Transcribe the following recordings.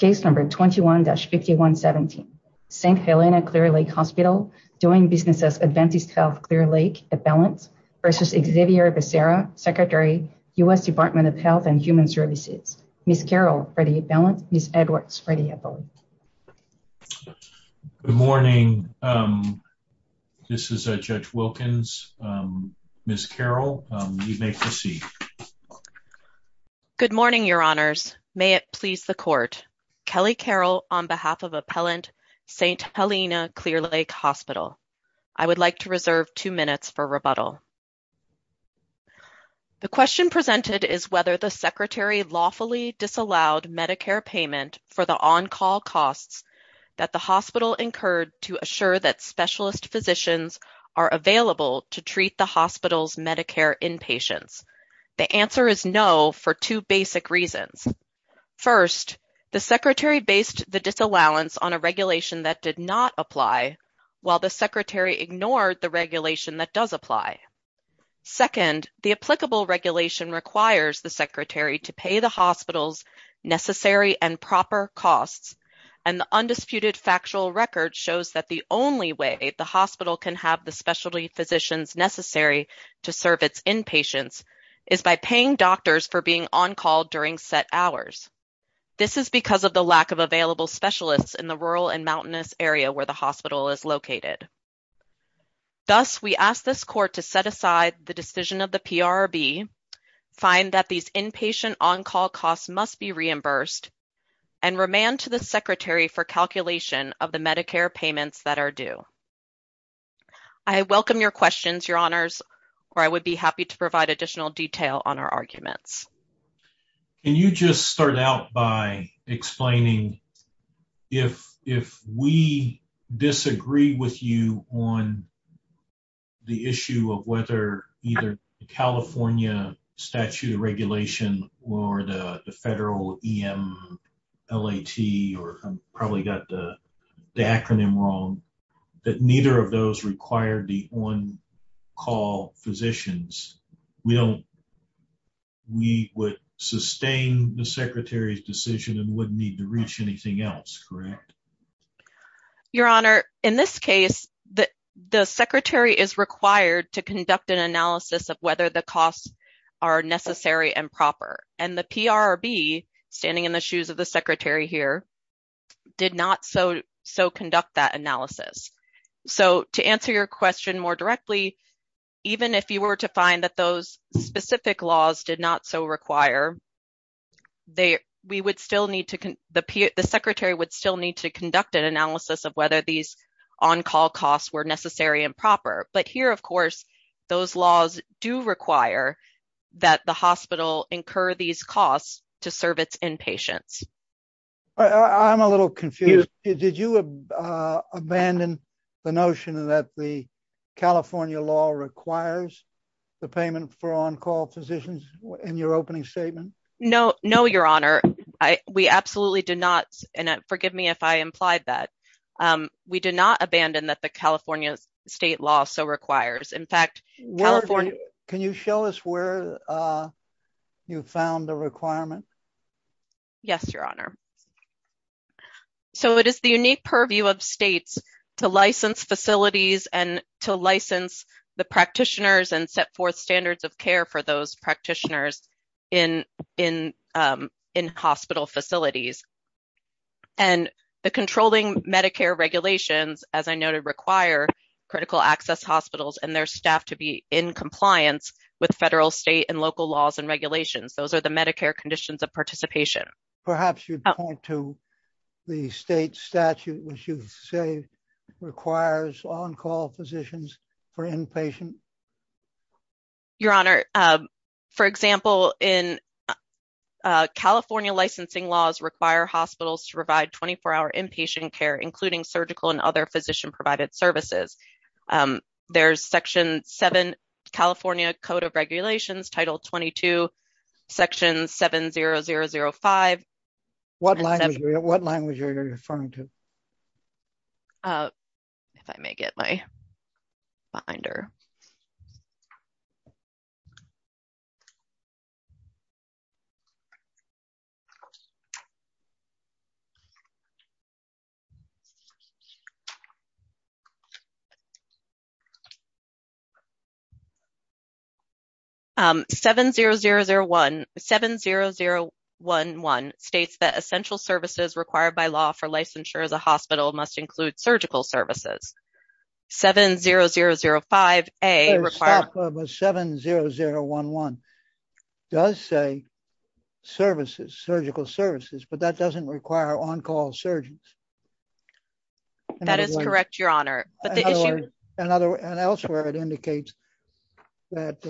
v. Xavier Becerra, Secretary, U.S. Department of Health and Human Services, Ms. Carol Freddy-Eppelant, Ms. Edwards Freddy-Eppelant. Good morning. This is Judge Wilkins. Ms. Carol, you may proceed. Good morning, Your Honors. May it please the Court. Kelly Carol on behalf of Appellant St. Helena Clear Lake Hospital. I would like to reserve two minutes for rebuttal. The question presented is whether the Secretary lawfully disallowed Medicare payment for the on-call costs that the hospital incurred to assure that specialist physicians are available to treat the hospital's Medicare inpatients. The answer is no for two basic reasons. First, the Secretary based the disallowance on a regulation that did not apply, while the Secretary ignored the regulation that does apply. Second, the applicable regulation requires the Secretary to pay the hospital's necessary and proper costs, and the undisputed factual record shows that the only way the hospital can have the specialty physicians necessary to serve its inpatients is by paying doctors for being on-call during set hours. This is because of the lack of available specialists in the rural and mountainous area where the hospital is located. Thus, we ask this Court to set aside the decision of the PRRB, find that these inpatient on-call costs must be reimbursed, and remand to the Secretary for calculation of the Medicare payments that are due. I welcome your questions, Your Honors, or I would be happy to provide additional detail on our arguments. Can you just start out by explaining if we disagree with you on the issue of whether either the California statute of regulation or the federal EMLAT, or I probably got the acronym wrong, that neither of those require the on-call physicians. We would sustain the Secretary's decision and wouldn't need to reach anything else, correct? Your Honor, in this case, the Secretary is required to conduct an analysis of whether the costs are necessary and proper, and the PRRB, standing in the shoes of the Secretary here, did not so conduct that analysis. To answer your question more directly, even if you were to find that those specific laws did not so require, the Secretary would still need to conduct an analysis of whether these on-call costs were necessary and proper. But here, of course, those laws do require that the hospital incur these costs to serve its inpatients. I'm a little confused. Did you abandon the notion that the California law requires the payment for on-call physicians in your opening statement? No, Your Honor. We absolutely did not. And forgive me if I implied that. We did not abandon that the California state law so requires. In fact, California... Can you show us where you found the requirement? Yes, Your Honor. So, it is the unique purview of states to license facilities and to license the practitioners and set forth standards of care for those practitioners in hospital facilities. And the controlling Medicare regulations, as I noted, require critical access hospitals and their staff to be in compliance with federal, state, and local laws and regulations. Those are the Medicare conditions of participation. Perhaps you'd point to the state statute, which you say requires on-call physicians for inpatient. Your Honor, for example, California licensing laws require hospitals to provide 24-hour inpatient care, including surgical and other physician-provided services. There's Section 7 California Code of Regulations, Title 22, Section 70005. What language are you referring to? If I may get my binder. 70001 states that essential services required by law for licensure as a hospital must include surgical services. 70005A requires... 700011 does say services, surgical services, but that doesn't require on-call surgeons. That is correct, Your Honor. And elsewhere, it indicates that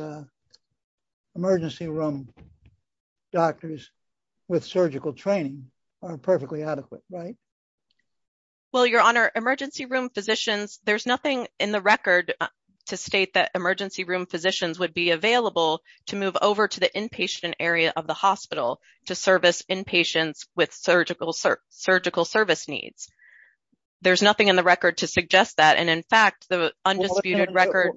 emergency room doctors with surgical training are perfectly adequate, right? Well, Your Honor, emergency room physicians... There's nothing in the record to state that emergency room physicians would be available to move over to the inpatient area of the hospital to service inpatients with surgical service needs. There's nothing in the record to suggest that. And in fact, the undisputed record...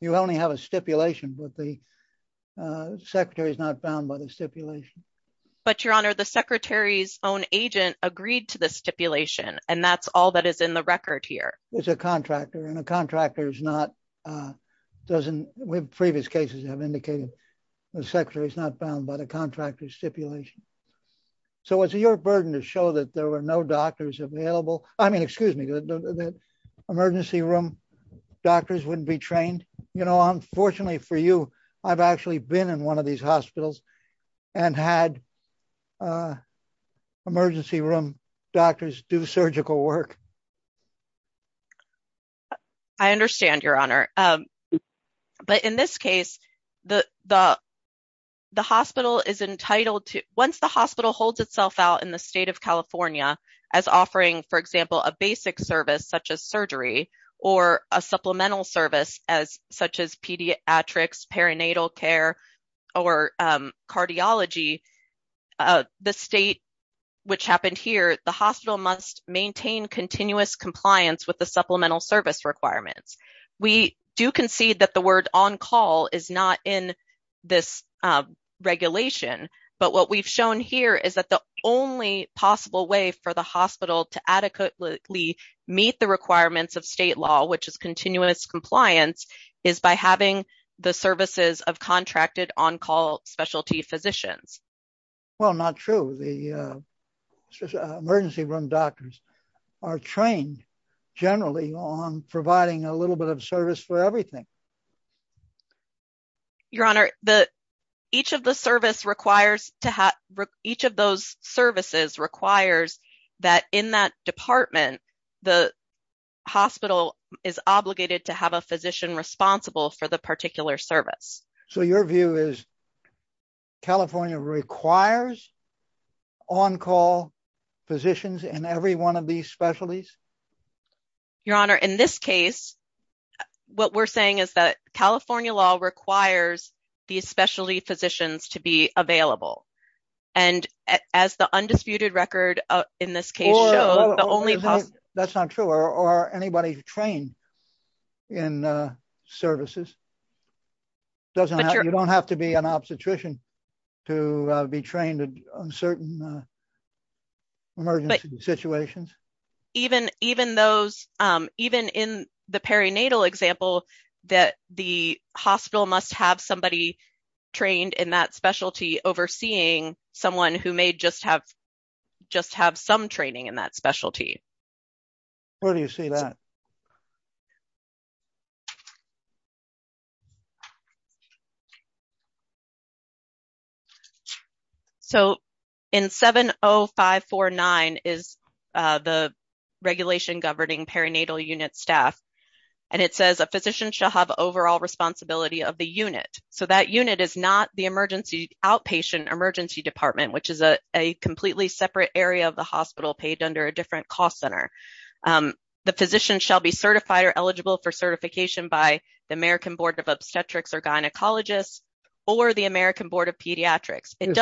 You only have a stipulation, but the secretary is not bound by the stipulation. But, Your Honor, the secretary's own agent agreed to the stipulation, and that's all that is in the record here. It's a contractor, and a contractor is not... Previous cases have indicated the secretary is not bound by the contractor's stipulation. So is it your burden to show that there were no doctors available? I mean, excuse me, the emergency room doctors wouldn't be trained? You know, unfortunately for you, I've actually been in one of these hospitals and had emergency room doctors do surgical work. I understand, Your Honor. But in this case, the hospital is entitled to... Once the hospital holds itself out in the state of California as offering, for example, a basic service such as surgery or a supplemental service such as pediatrics, perinatal care, or cardiology, the state, which happened here, the hospital must maintain continuous compliance with the supplemental service requirements. We do concede that the word on-call is not in this regulation, but what we've shown here is that the only possible way for the hospital to adequately meet the requirements of state law, which is continuous compliance, is by having the services of contracted on-call specialty physicians. Well, not true. The emergency room doctors are trained generally on providing a little bit of service for everything. Your Honor, each of those services requires that in that department, the hospital is obligated to have a physician responsible for the particular service. So your view is California requires on-call physicians in every one of these specialties? Your Honor, in this case, what we're saying is that California law requires these specialty physicians to be available. And as the undisputed record in this case shows, the only possible... That's not true. Are anybody trained in services? You don't have to be an obstetrician to be trained in certain emergency situations? Even in the perinatal example, that the hospital must have somebody trained in that specialty overseeing someone who may just have some training in that specialty. Where do you see that? So, in 70549 is the regulation governing perinatal unit staff. And it says a physician shall have overall responsibility of the unit. So that unit is not the emergency outpatient emergency department, which is a completely separate area of the hospital paid under a different cost center. The physician shall be certified or eligible for certification by the American Board of Obstetrics or Gynecologists or the American Board of Pediatrics. If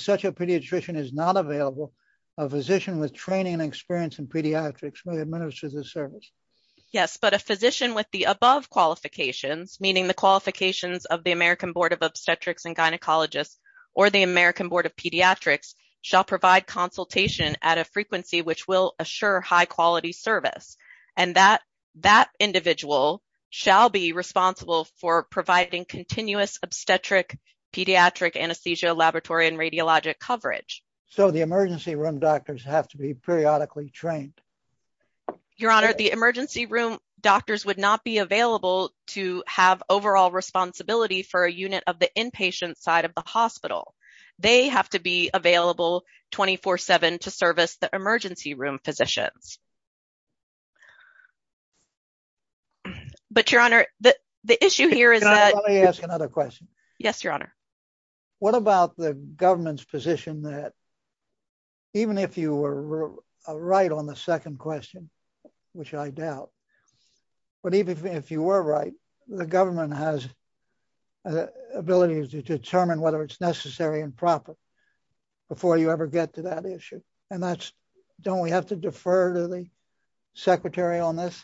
such a pediatrician is not available, a physician with training and experience in pediatrics may administer the service. Yes, but a physician with the above qualifications, meaning the qualifications of the American Board of Obstetrics and Gynecologists or the American Board of Pediatrics, shall provide consultation at a frequency which will assure high quality service. And that individual shall be responsible for providing continuous obstetric pediatric anesthesia laboratory and radiologic coverage. So the emergency room doctors have to be periodically trained? Your Honor, the emergency room doctors would not be available to have overall responsibility for a unit of the inpatient side of the hospital. They have to be available 24-7 to service the emergency room physicians. But Your Honor, the issue here is that... Can I ask another question? Yes, Your Honor. What about the government's position that even if you were right on the second question, which I doubt, but even if you were right, the government has the ability to determine whether it's necessary and proper before you ever get to that issue. And that's, don't we have to defer to the secretary on this?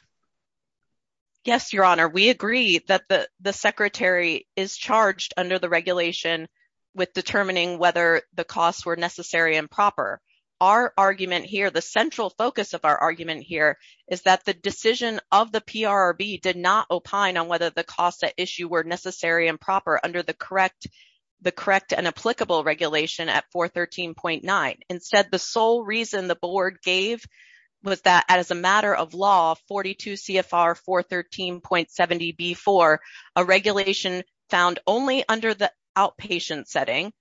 Yes, Your Honor, we agree that the secretary is charged under the regulation with determining whether the costs were necessary and proper. Our argument here, the central focus of our argument here, is that the decision of the PRRB did not opine on whether the costs at issue were necessary and proper under the correct and applicable regulation at 413.9. Instead, the sole reason the board gave was that as a matter of law, 42 CFR 413.70B4, a regulation found only under the outpatient setting,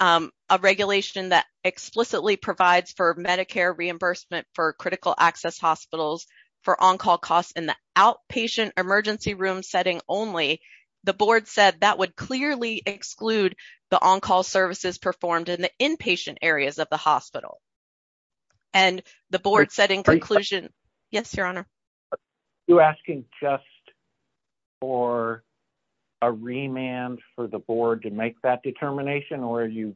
a regulation that explicitly provides for Medicare reimbursement for critical access hospitals for on-call costs in the outpatient emergency room setting only. The board said that would clearly exclude the on-call services performed in the inpatient areas of the hospital. And the board said in conclusion, yes, Your Honor. You're asking just for a remand for the board to make that determination or are you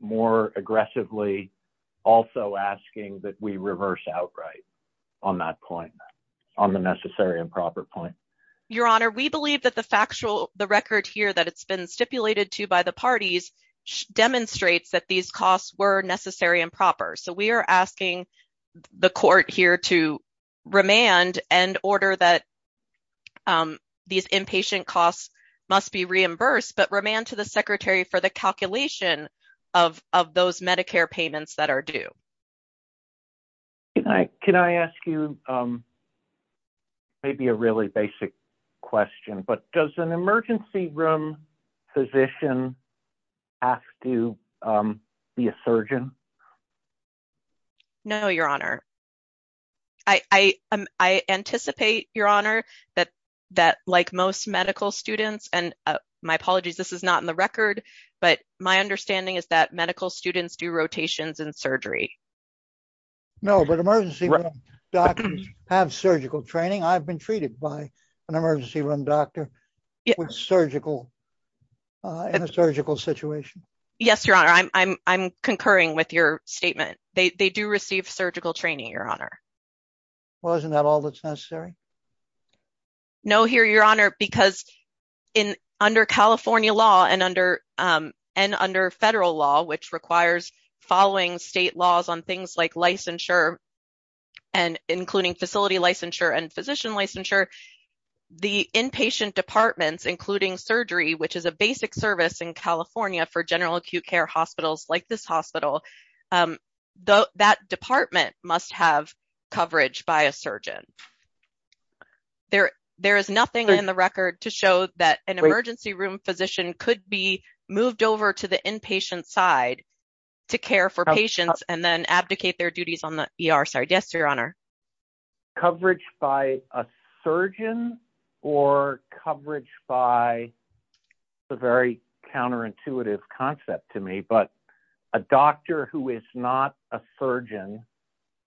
more aggressively also asking that we reverse outright on that point, on the necessary and proper point? Your Honor, we believe that the factual, the record here that it's been stipulated to by the parties demonstrates that these costs were necessary and proper. So we are asking the court here to remand and order that these inpatient costs must be reimbursed, but remand to the secretary for the calculation of those Medicare payments that are due. Can I ask you maybe a really basic question, but does an emergency room physician have to be a surgeon? No, Your Honor. I anticipate, Your Honor, that like most medical students, and my apologies, this is not in the record, but my understanding is that medical students do rotations in surgery. No, but emergency room doctors have surgical training. I've been treated by an emergency room doctor in a surgical situation. Yes, Your Honor, I'm concurring with your statement. They do receive surgical training, Your Honor. Well, isn't that all that's necessary? No, Your Honor, because under California law and under federal law, which requires following state laws on things like licensure and including facility licensure and physician licensure, the inpatient departments, including surgery, which is a basic service in California for general acute care hospitals like this hospital, that department must have coverage by a surgeon. There is nothing in the record to show that an emergency room physician could be moved over to the inpatient side to care for patients and then abdicate their duties on the ER. Yes, Your Honor. Coverage by a surgeon or coverage by, it's a very counterintuitive concept to me, but a doctor who is not a surgeon,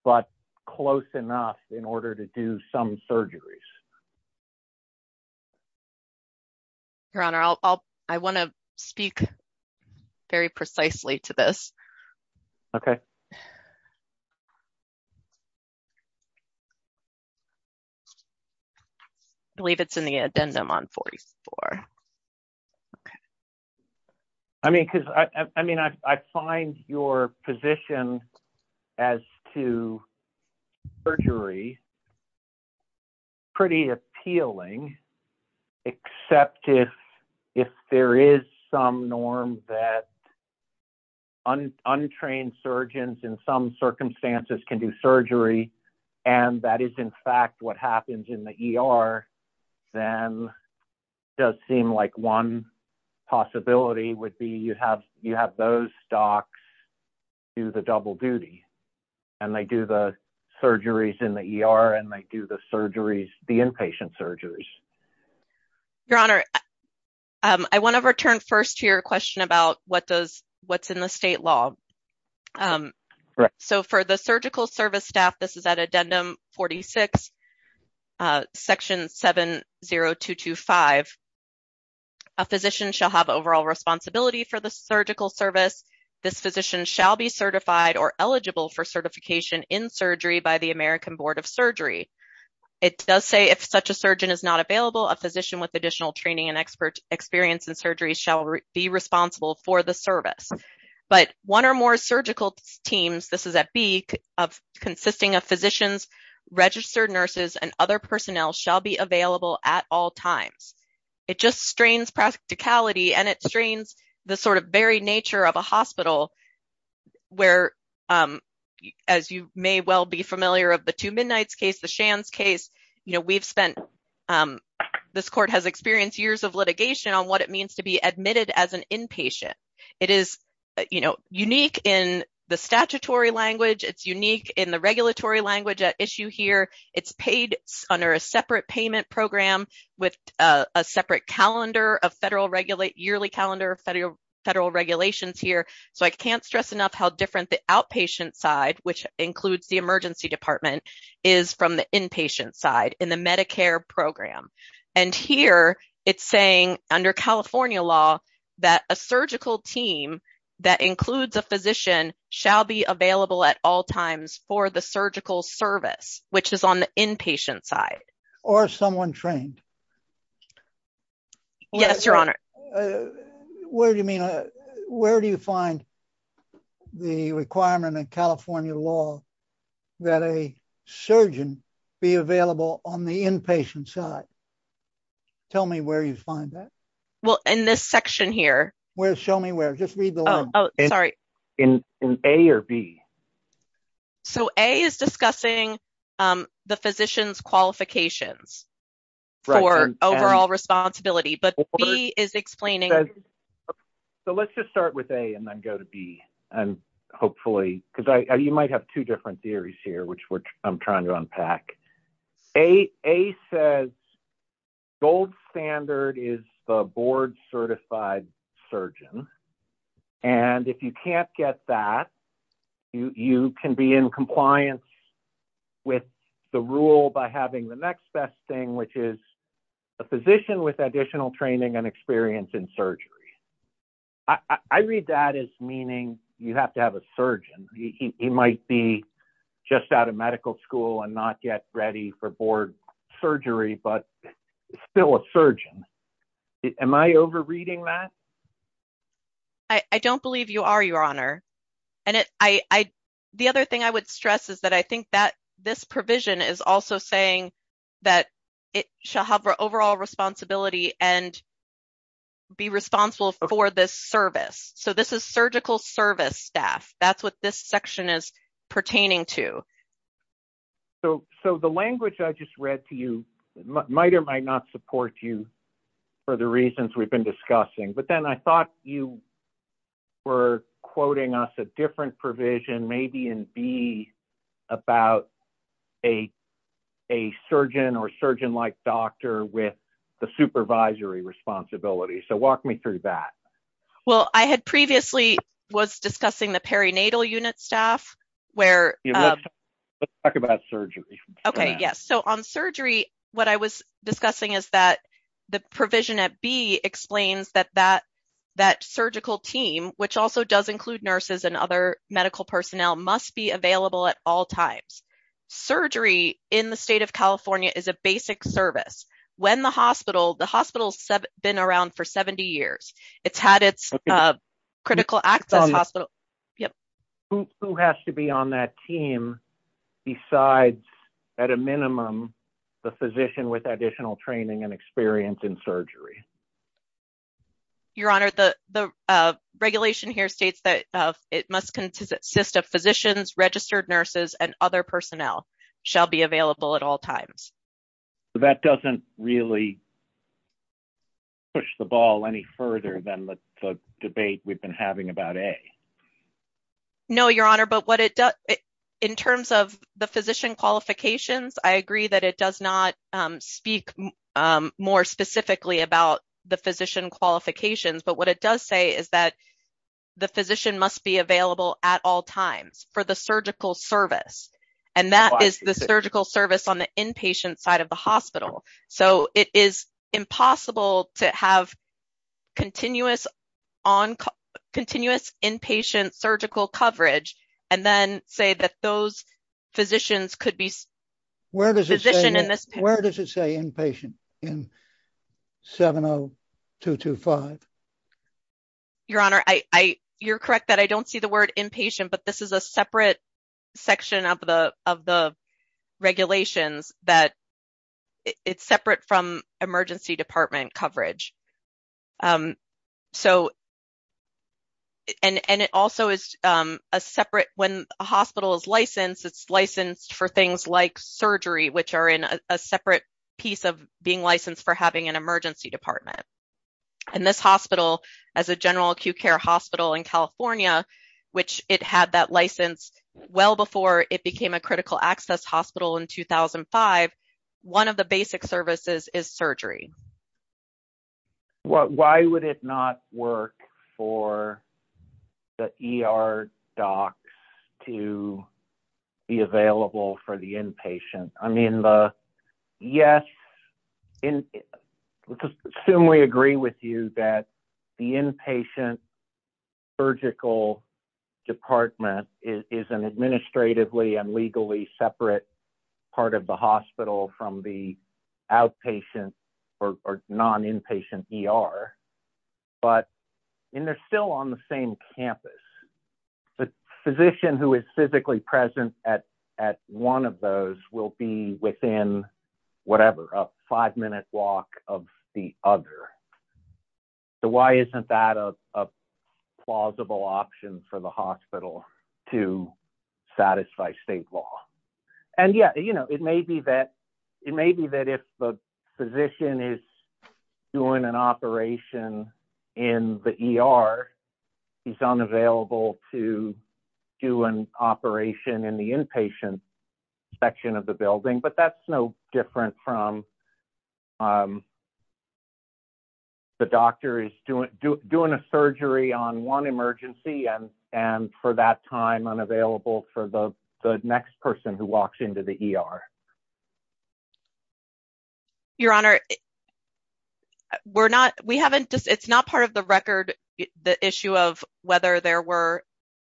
but close enough in order to do some surgeries. Your Honor, I want to speak very precisely to this. Okay. I believe it's in the addendum on 44. Okay. And that is, in fact, what happens in the ER, then it does seem like one possibility would be you have those docs do the double duty and they do the surgeries in the ER and they do the surgeries, the inpatient surgeries. Your Honor, I want to return first to your question about what's in the state law. Correct. So, for the surgical service staff, this is at addendum 46, section 70225. A physician shall have overall responsibility for the surgical service. This physician shall be certified or eligible for certification in surgery by the American Board of Surgery. It does say if such a surgeon is not available, a physician with additional training and experience in surgery shall be responsible for the service. But one or more surgical teams, this is at B, consisting of physicians, registered nurses, and other personnel shall be available at all times. It just strains practicality and it strains the sort of very nature of a hospital where, as you may well be familiar of the Two Midnights case, the Shands case, you know, we've spent, this court has experienced years of litigation on what it means to be admitted as an inpatient. It is, you know, unique in the statutory language. It's unique in the regulatory language at issue here. It's paid under a separate payment program with a separate calendar of federal, yearly calendar of federal regulations here. So, I can't stress enough how different the outpatient side, which includes the emergency department, is from the inpatient side in the Medicare program. And here, it's saying, under California law, that a surgical team that includes a physician shall be available at all times for the surgical service, which is on the inpatient side. Or someone trained. Yes, Your Honor. Where do you mean, where do you find the requirement in California law that a surgeon be available on the inpatient side? Tell me where you find that. Well, in this section here. Where, show me where, just read the line. Oh, sorry. In A or B? So, A is discussing the physician's qualifications for overall responsibility, but B is explaining. So, let's just start with A and then go to B. And hopefully, because you might have two different theories here, which I'm trying to unpack. A says, gold standard is the board certified surgeon. And if you can't get that, you can be in compliance with the rule by having the next best thing, which is a physician with additional training and experience in surgery. I read that as meaning you have to have a surgeon. He might be just out of medical school and not yet ready for board surgery, but still a surgeon. Am I overreading that? The other thing I would stress is that I think that this provision is also saying that it shall have overall responsibility and be responsible for this service. So, this is surgical service staff. That's what this section is pertaining to. So, the language I just read to you might or might not support you for the reasons we've been discussing. But then I thought you were quoting us a different provision, maybe in B, about a surgeon or surgeon-like doctor with the supervisory responsibility. So, walk me through that. Well, I had previously was discussing the perinatal unit staff. Let's talk about surgery. Okay, yes. So, on surgery, what I was discussing is that the provision at B explains that that surgical team, which also does include nurses and other medical personnel, must be available at all times. Surgery in the state of California is a basic service. The hospital's been around for 70 years. It's had its critical access hospital. Who has to be on that team besides, at a minimum, the physician with additional training and experience in surgery? Your Honor, the regulation here states that it must consist of physicians, registered nurses, and other personnel shall be available at all times. That doesn't really push the ball any further than the debate we've been having about A. No, Your Honor, but in terms of the physician qualifications, I agree that it does not speak more specifically about the physician qualifications. But what it does say is that the physician must be available at all times for the surgical service. And that is the surgical service on the inpatient side of the hospital. So, it is impossible to have continuous inpatient surgical coverage and then say that those physicians could be physician in this. Where does it say inpatient in 70225? Your Honor, you're correct that I don't see the word inpatient, but this is a separate section of the regulations that it's separate from emergency department coverage. So, and it also is a separate when a hospital is licensed, it's licensed for things like surgery, which are in a separate piece of being licensed for having an emergency department. And this hospital, as a general acute care hospital in California, which it had that license well before it became a critical access hospital in 2005, one of the basic services is surgery. Why would it not work for the ER docs to be available for the inpatient? I mean, yes, let's assume we agree with you that the inpatient surgical department is an administratively and legally separate part of the hospital from the outpatient or non-inpatient ER. But, and they're still on the same campus. The physician who is physically present at one of those will be within whatever, a five minute walk of the other. So, why isn't that a plausible option for the hospital to satisfy state law? And yeah, you know, it may be that if the physician is doing an operation in the ER, he's unavailable to do an operation in the inpatient section of the building. But that's no different from the doctor is doing a surgery on one emergency and for that time unavailable for the next person who walks into the ER. Your Honor, we're not, we haven't, it's not part of the record, the issue of whether there were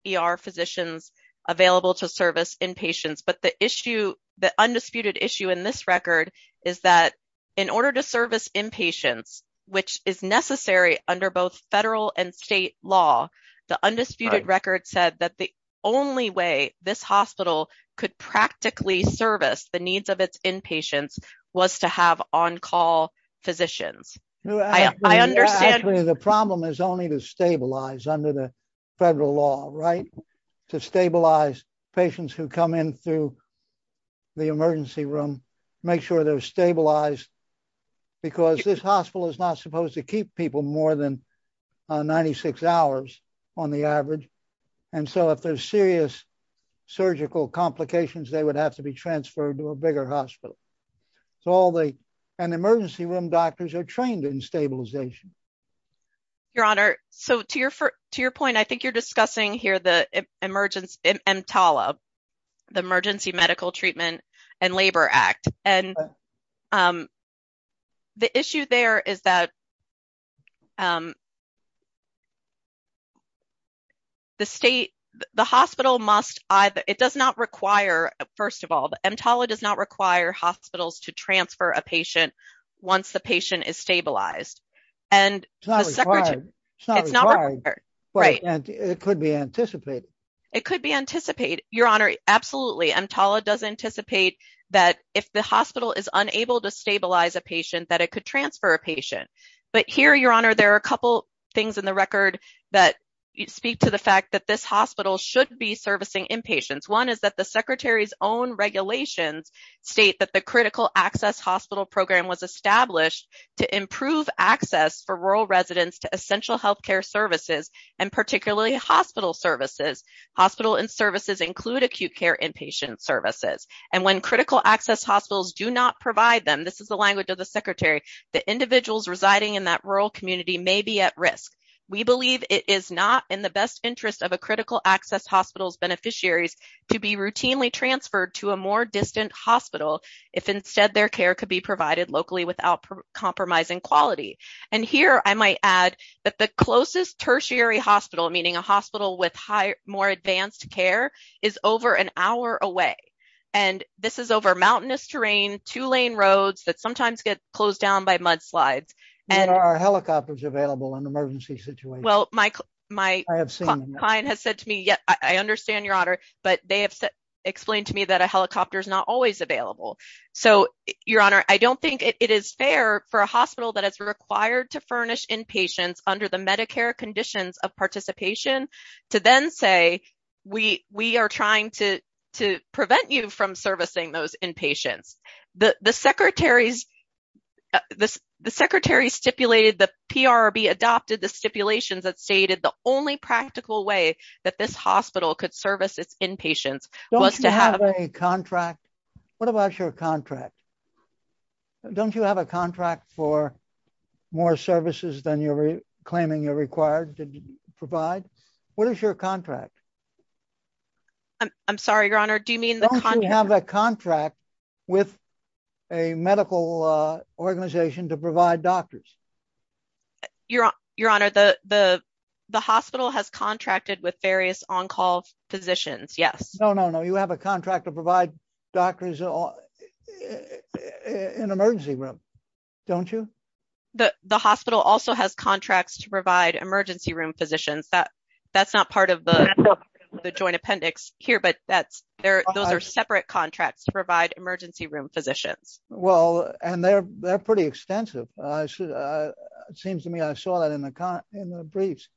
ER physicians available to service inpatients. But the issue, the undisputed issue in this record is that in order to service inpatients, which is necessary under both federal and state law. The undisputed record said that the only way this hospital could practically service the needs of its inpatients was to have on-call physicians. I understand. The problem is only to stabilize under the federal law, right? To stabilize patients who come in through the emergency room, make sure they're stabilized. Because this hospital is not supposed to keep people more than 96 hours on the average. And so if there's serious surgical complications, they would have to be transferred to a bigger hospital. So all the emergency room doctors are trained in stabilization. Your Honor, so to your point, I think you're discussing here the EMTALA, the Emergency Medical Treatment and Labor Act. And the issue there is that the state, the hospital must either, it does not require, first of all, the EMTALA does not require hospitals to transfer a patient once the patient is stabilized. It's not required, but it could be anticipated. It could be anticipated. Your Honor, absolutely. EMTALA does anticipate that if the hospital is unable to stabilize a patient, that it could transfer a patient. But here, Your Honor, there are a couple things in the record that speak to the fact that this hospital should be servicing inpatients. One is that the Secretary's own regulations state that the Critical Access Hospital Program was established to improve access for rural residents to essential healthcare services, and particularly hospital services. Hospital and services include acute care inpatient services. And when critical access hospitals do not provide them, this is the language of the Secretary, the individuals residing in that rural community may be at risk. We believe it is not in the best interest of a critical access hospital's beneficiaries to be routinely transferred to a more distant hospital if instead their care could be provided locally without compromising quality. And here I might add that the closest tertiary hospital, meaning a hospital with more advanced care, is over an hour away. And this is over mountainous terrain, two-lane roads that sometimes get closed down by mudslides. Are helicopters available in emergency situations? Well, my client has said to me, yes, I understand, Your Honor, but they have explained to me that a helicopter is not always available. So, Your Honor, I don't think it is fair for a hospital that is required to furnish inpatients under the Medicare conditions of participation to then say, we are trying to prevent you from servicing those inpatients. The Secretary stipulated the PRB adopted the stipulations that stated the only practical way that this hospital could service its inpatients was to have a contract. What about your contract? Don't you have a contract for more services than you're claiming you're required to provide? What is your contract? I'm sorry, Your Honor, do you mean the contract? You have a contract with a medical organization to provide doctors. Your Honor, the hospital has contracted with various on-call physicians, yes. No, no, no, you have a contract to provide doctors in emergency room, don't you? The hospital also has contracts to provide emergency room physicians. That's not part of the joint appendix here, but those are separate contracts to provide emergency room physicians. Well, and they're pretty extensive. It seems to me I saw that in the briefs.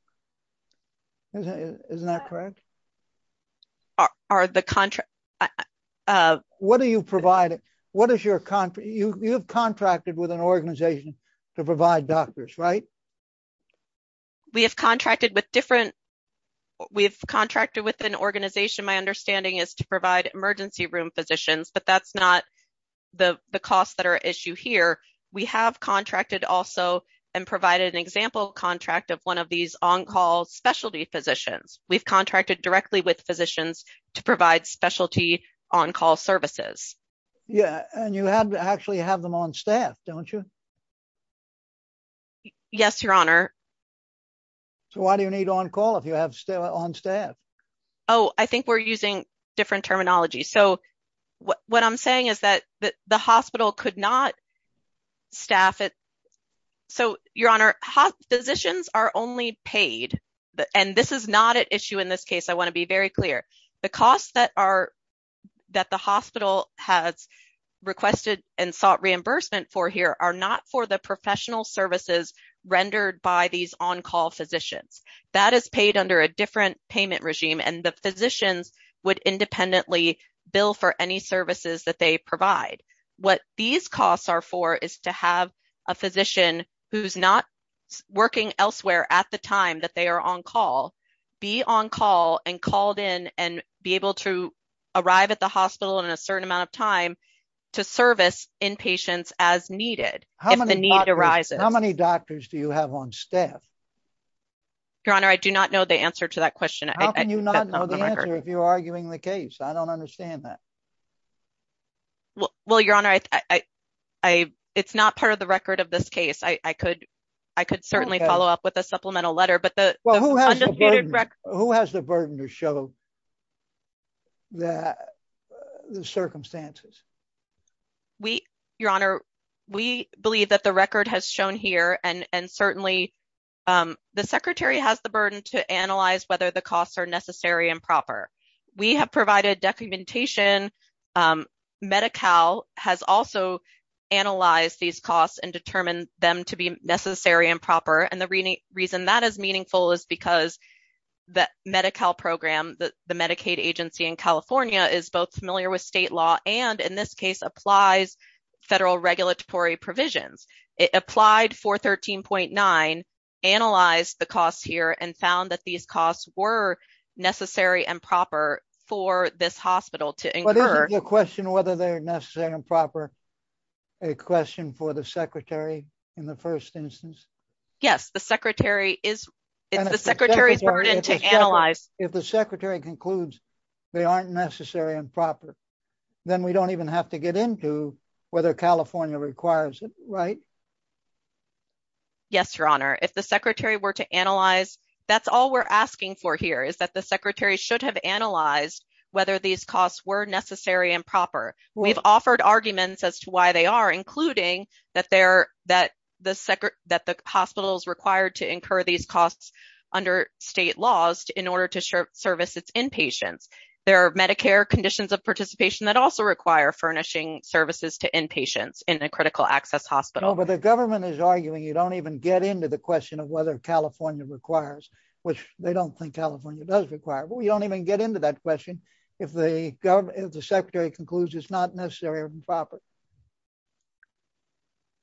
Isn't that correct? What are you providing? You have contracted with an organization to provide doctors, right? We have contracted with an organization, my understanding is, to provide emergency room physicians, but that's not the costs that are at issue here. We have contracted also and provided an example contract of one of these on-call specialty physicians. We've contracted directly with physicians to provide specialty on-call services. Yeah, and you actually have them on staff, don't you? Yes, Your Honor. So why do you need on-call if you have them on staff? Oh, I think we're using different terminology. So what I'm saying is that the hospital could not staff it. So, Your Honor, physicians are only paid, and this is not at issue in this case, I want to be very clear. The costs that the hospital has requested and sought reimbursement for here are not for the professional services rendered by these on-call physicians. That is paid under a different payment regime, and the physicians would independently bill for any services that they provide. What these costs are for is to have a physician who's not working elsewhere at the time that they are on-call be on-call and called in and be able to arrive at the hospital in a certain amount of time to service inpatients as needed. How many doctors do you have on staff? Your Honor, I do not know the answer to that question. How can you not know the answer if you're arguing the case? I don't understand that. Well, Your Honor, it's not part of the record of this case. I could certainly follow up with a supplemental letter. Who has the burden to show the circumstances? Your Honor, we believe that the record has shown here, and certainly the Secretary has the burden to analyze whether the costs are necessary and proper. We have provided documentation. Medi-Cal has also analyzed these costs and determined them to be necessary and proper. And the reason that is meaningful is because the Medi-Cal program, the Medicaid agency in California, is both familiar with state law and, in this case, applies federal regulatory provisions. It applied for 13.9, analyzed the costs here, and found that these costs were necessary and proper for this hospital to incur. But is the question whether they're necessary and proper a question for the Secretary in the first instance? Yes, the Secretary is. It's the Secretary's burden to analyze. If the Secretary concludes they aren't necessary and proper, then we don't even have to get into whether California requires it, right? Yes, Your Honor. If the Secretary were to analyze, that's all we're asking for here is that the Secretary should have analyzed whether these costs were necessary and proper. We've offered arguments as to why they are, including that the hospital is required to incur these costs under state laws in order to service its inpatients. There are Medicare conditions of participation that also require furnishing services to inpatients in a critical access hospital. No, but the government is arguing you don't even get into the question of whether California requires, which they don't think California does require. But we don't even get into that question if the Secretary concludes it's not necessary and proper.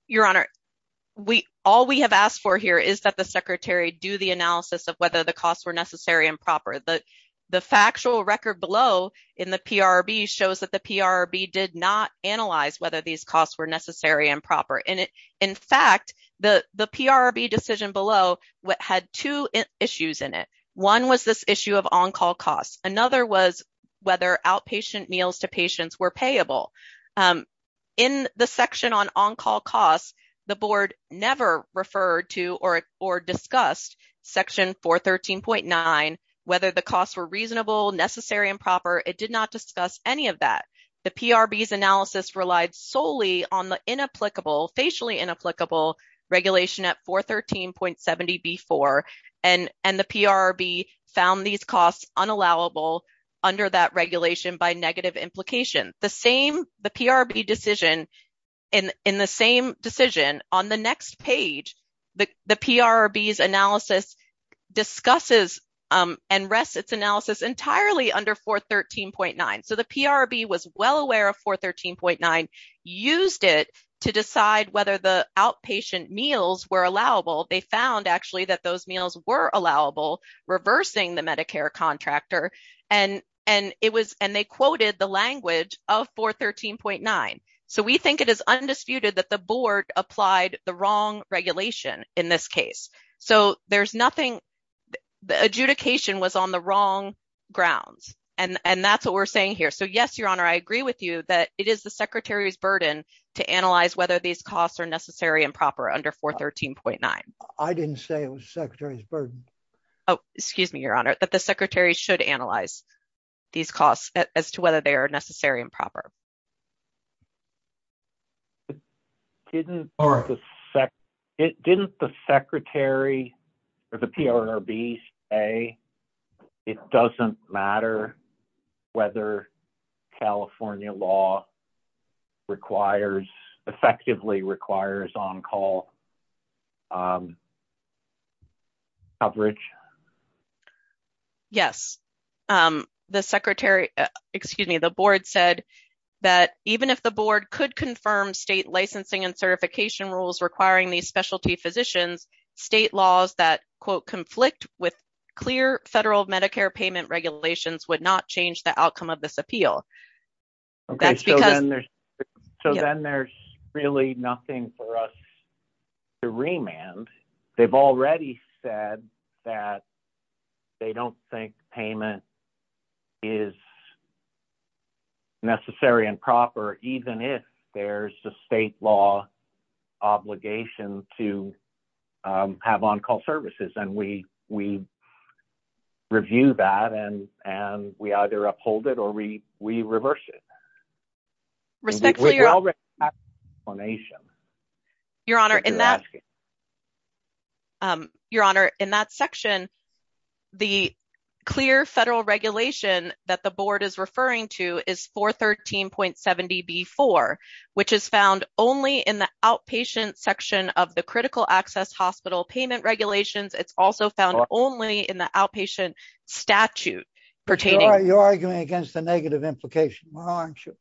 Your Honor, all we have asked for here is that the Secretary do the analysis of whether the costs were necessary and proper. The factual record below in the PRRB shows that the PRRB did not analyze whether these costs were necessary and proper. In fact, the PRRB decision below had two issues in it. One was this issue of on-call costs. Another was whether outpatient meals to patients were payable. In the section on on-call costs, the Board never referred to or discussed Section 413.9, whether the costs were reasonable, necessary, and proper. It did not discuss any of that. The PRRB's analysis relied solely on the inapplicable, facially inapplicable regulation at 413.70b4. And the PRRB found these costs unallowable under that regulation by negative implications. In the same decision on the next page, the PRRB's analysis discusses and rests its analysis entirely under 413.9. So the PRRB was well aware of 413.9, used it to decide whether the outpatient meals were allowable. They found actually that those meals were allowable, reversing the Medicare contractor. And they quoted the language of 413.9. So we think it is undisputed that the Board applied the wrong regulation in this case. So there's nothing, the adjudication was on the wrong grounds. And that's what we're saying here. So yes, Your Honor, I agree with you that it is the Secretary's burden to analyze whether these costs are necessary and proper under 413.9. I didn't say it was the Secretary's burden. Oh, excuse me, Your Honor, that the Secretary should analyze these costs as to whether they are necessary and proper. Didn't the Secretary or the PRRB say it doesn't matter whether California law requires, effectively requires on-call coverage? Yes, the Secretary, excuse me, the Board said that even if the Board could confirm state licensing and certification rules requiring these specialty physicians, state laws that, quote, conflict with clear federal Medicare payment regulations would not change the outcome of this appeal. Okay, so then there's really nothing for us to remand. They've already said that they don't think payment is necessary and proper, even if there's a state law obligation to have on-call services. And we review that and we either uphold it or we reverse it. Respectfully, Your Honor, in that section, the clear federal regulation that the Board is referring to is 413.70B4, which is found only in the outpatient section of the critical access hospital payment regulations. It's also found only in the outpatient statute pertaining. You're arguing against the negative implication, aren't you?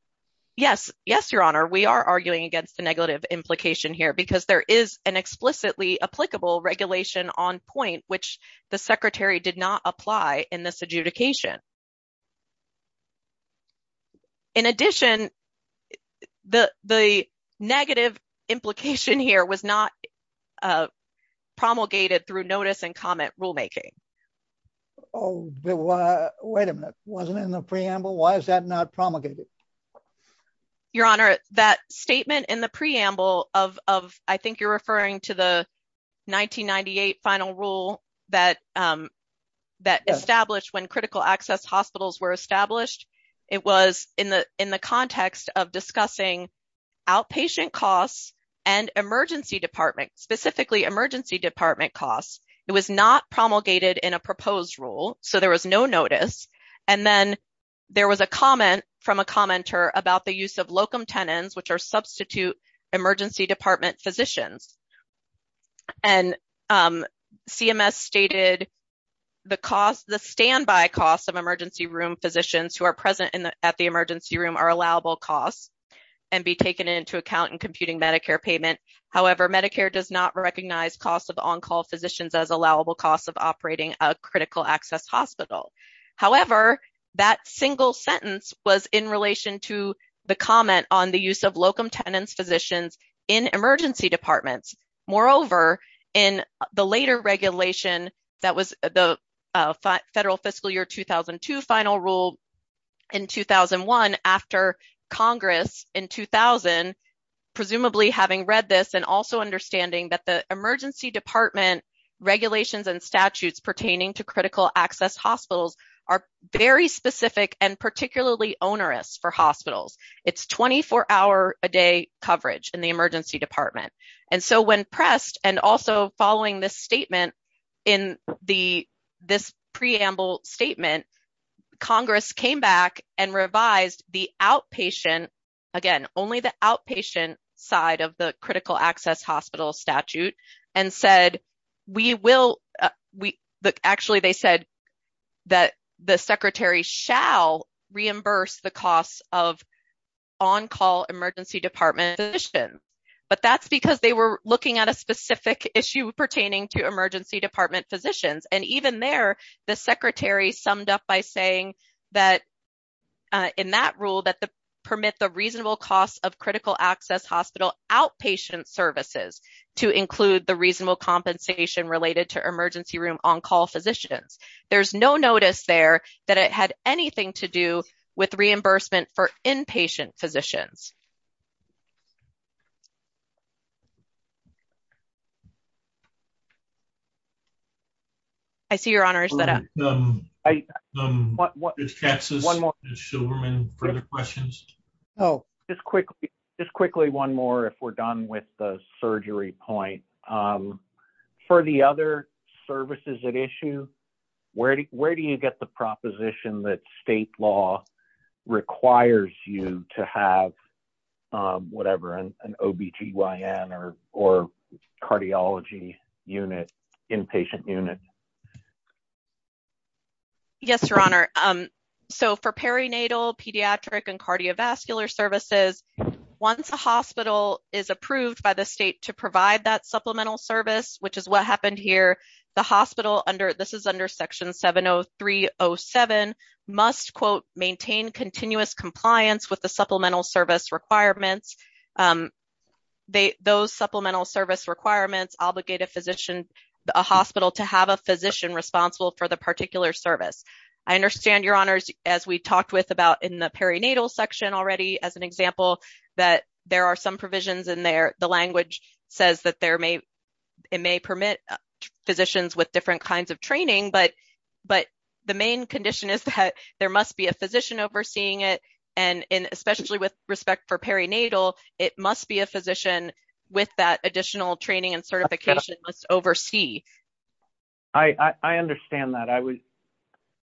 Yes, yes, Your Honor, we are arguing against the negative implication here because there is an explicitly applicable regulation on point, which the Secretary did not apply in this adjudication. In addition, the negative implication here was not promulgated through notice and comment rulemaking. Oh, wait a minute. Wasn't it in the preamble? Why is that not promulgated? Your Honor, that statement in the preamble of, I think you're referring to the 1998 final rule that established when critical access hospitals were established. It was in the context of discussing outpatient costs and emergency department, specifically emergency department costs. It was not promulgated in a proposed rule, so there was no notice. And then there was a comment from a commenter about the use of locum tenens, which are substitute emergency department physicians. And CMS stated the standby costs of emergency room physicians who are present at the emergency room are allowable costs and be taken into account in computing Medicare payment. However, Medicare does not recognize costs of on-call physicians as allowable costs of operating a critical access hospital. However, that single sentence was in relation to the comment on the use of locum tenens physicians in emergency departments. Moreover, in the later regulation that was the Federal Fiscal Year 2002 final rule in 2001 after Congress in 2000, presumably having read this and also understanding that the emergency department regulations and statutes pertaining to critical access hospitals are very specific and particularly onerous for hospitals. It's 24 hour a day coverage in the emergency department. And so when pressed and also following this statement in this preamble statement, Congress came back and revised the outpatient, again, only the outpatient side of the critical access hospital statute and said, we will. Actually, they said that the secretary shall reimburse the costs of on-call emergency department physicians, but that's because they were looking at a specific issue pertaining to emergency department physicians. And even there, the secretary summed up by saying that in that rule that the permit the reasonable costs of critical access hospital outpatient services to include the reasonable compensation related to emergency room on-call physicians. There's no notice there that it had anything to do with reimbursement for inpatient physicians. I see your honors that. I want one more question. Oh, just quickly. Just quickly. One more. If we're done with the surgery point for the other services at issue. Where, where do you get the proposition that state law requires you to have whatever an OBGYN or, or cardiology unit inpatient unit. Yes, your honor. So, for perinatal pediatric and cardiovascular services, once a hospital is approved by the state to provide that supplemental service, which is what happened here. The hospital under this is under section 70307 must quote maintain continuous compliance with the supplemental service requirements. Those supplemental service requirements obligate a physician, a hospital to have a physician responsible for the particular service. I understand your honors as we talked with about in the perinatal section already as an example that there are some provisions in there. The language says that there may. It may permit physicians with different kinds of training, but, but the main condition is that there must be a physician overseeing it. And especially with respect for perinatal, it must be a physician with that additional training and certification must oversee. I understand that I was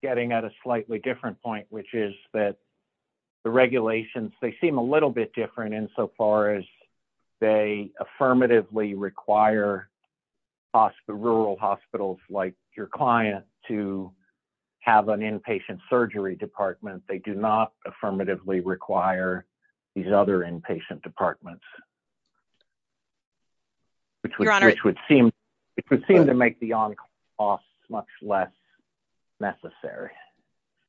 getting at a slightly different point, which is that the regulations, they seem a little bit different in so far as they affirmatively require hospital rural hospitals, like your client to have an inpatient surgery department, they do not affirmatively require these other inpatient departments. Which would seem, it would seem to make the on costs much less necessary.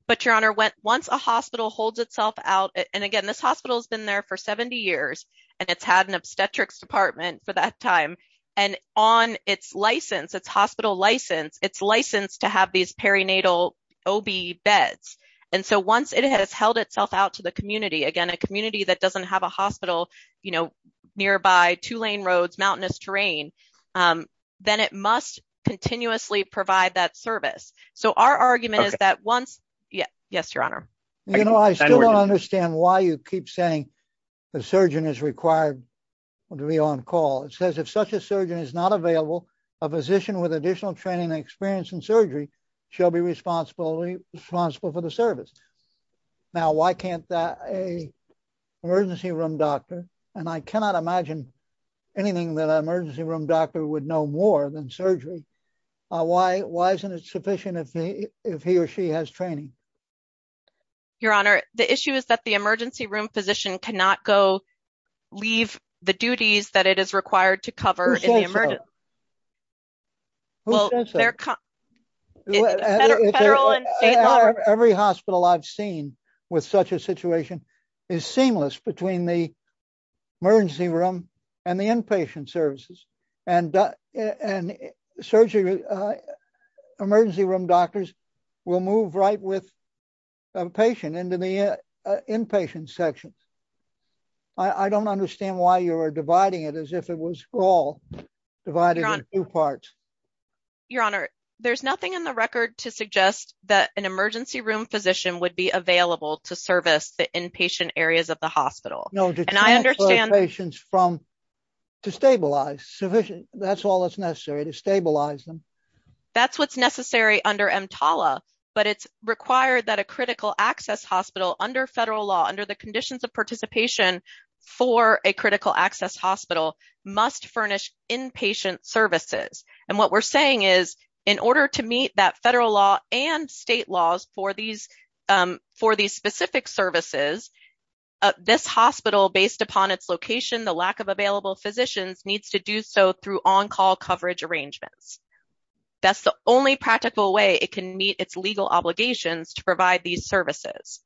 But your honor went once a hospital holds itself out and again, this hospital has been there for 70 years, and it's had an obstetrics department for that time. And on its license, it's hospital license, it's licensed to have these perinatal beds. And so once it has held itself out to the community, again, a community that doesn't have a hospital, you know, nearby two lane roads mountainous terrain, then it must continuously provide that service. So our argument is that once. Yeah, yes, your honor. You know, I still don't understand why you keep saying the surgeon is required to be on call. It says if such a surgeon is not available, a physician with additional training experience in surgery shall be responsible responsible for the service. Now, why can't that a emergency room doctor, and I cannot imagine anything that emergency room doctor would know more than surgery. Why, why isn't it sufficient if he or she has training. Your honor, the issue is that the emergency room physician cannot go leave the duties that it is required to cover. Every hospital I've seen with such a situation is seamless between the emergency room, and the inpatient services and and surgery emergency room doctors will move right with a patient into the inpatient section. I don't understand why you are dividing it as if it was all. Your honor, there's nothing in the record to suggest that an emergency room physician would be available to service the inpatient areas of the hospital, and I understand patients from to stabilize sufficient, that's all that's necessary to stabilize them. That's what's necessary under M Tala, but it's required that a critical access hospital under federal law under the conditions of participation for a critical access hospital must furnish inpatient services. And what we're saying is, in order to meet that federal law and state laws for these for these specific services. This hospital based upon its location the lack of available physicians needs to do so through on call coverage arrangements. That's the only practical way it can meet its legal obligations to provide these services.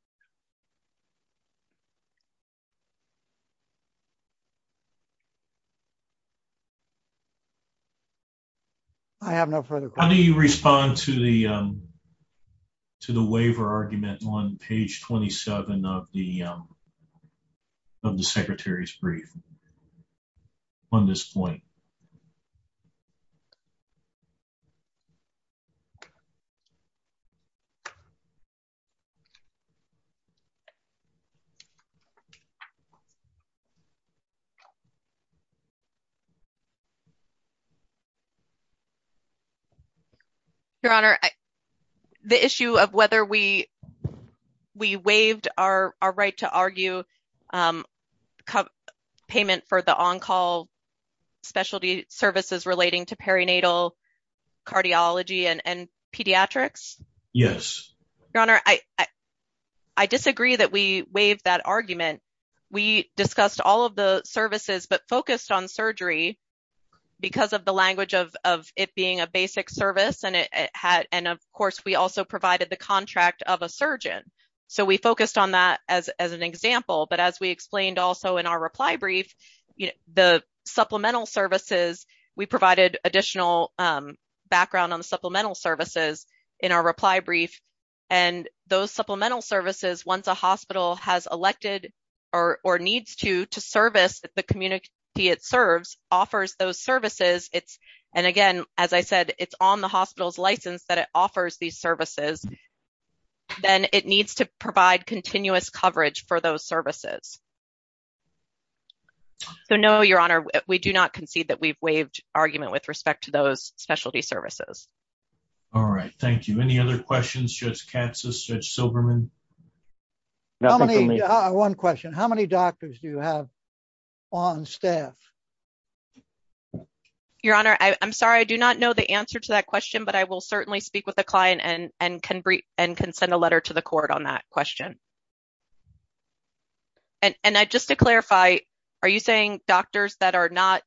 I have no further. How do you respond to the to the waiver argument on page 27 of the of the Secretary's brief on this point. Your honor, I, the issue of whether we, we waived our, our right to argue payment for the on call. Your honor, I, I disagree that we waived that argument, we discussed all of the services but focused on surgery, because of the language of it being a basic service and it had, and of course we also provided the contract of a surgeon. So we focused on that as an example but as we explained also in our reply brief, the supplemental services, we provided additional background on the supplemental services in our reply brief. And those supplemental services once a hospital has elected, or needs to to service the community, it serves offers those services, it's. And again, as I said, it's on the hospital's license that it offers these services, then it needs to provide continuous coverage for those services. So no, your honor, we do not concede that we've waived argument with respect to those specialty services. All right, thank you. Any other questions just catches such Silberman. One question, how many doctors do you have on staff. Your honor, I'm sorry I do not know the answer to that question but I will certainly speak with the client and and can bring and can send a letter to the court on that question. And I just to clarify, are you saying doctors that are not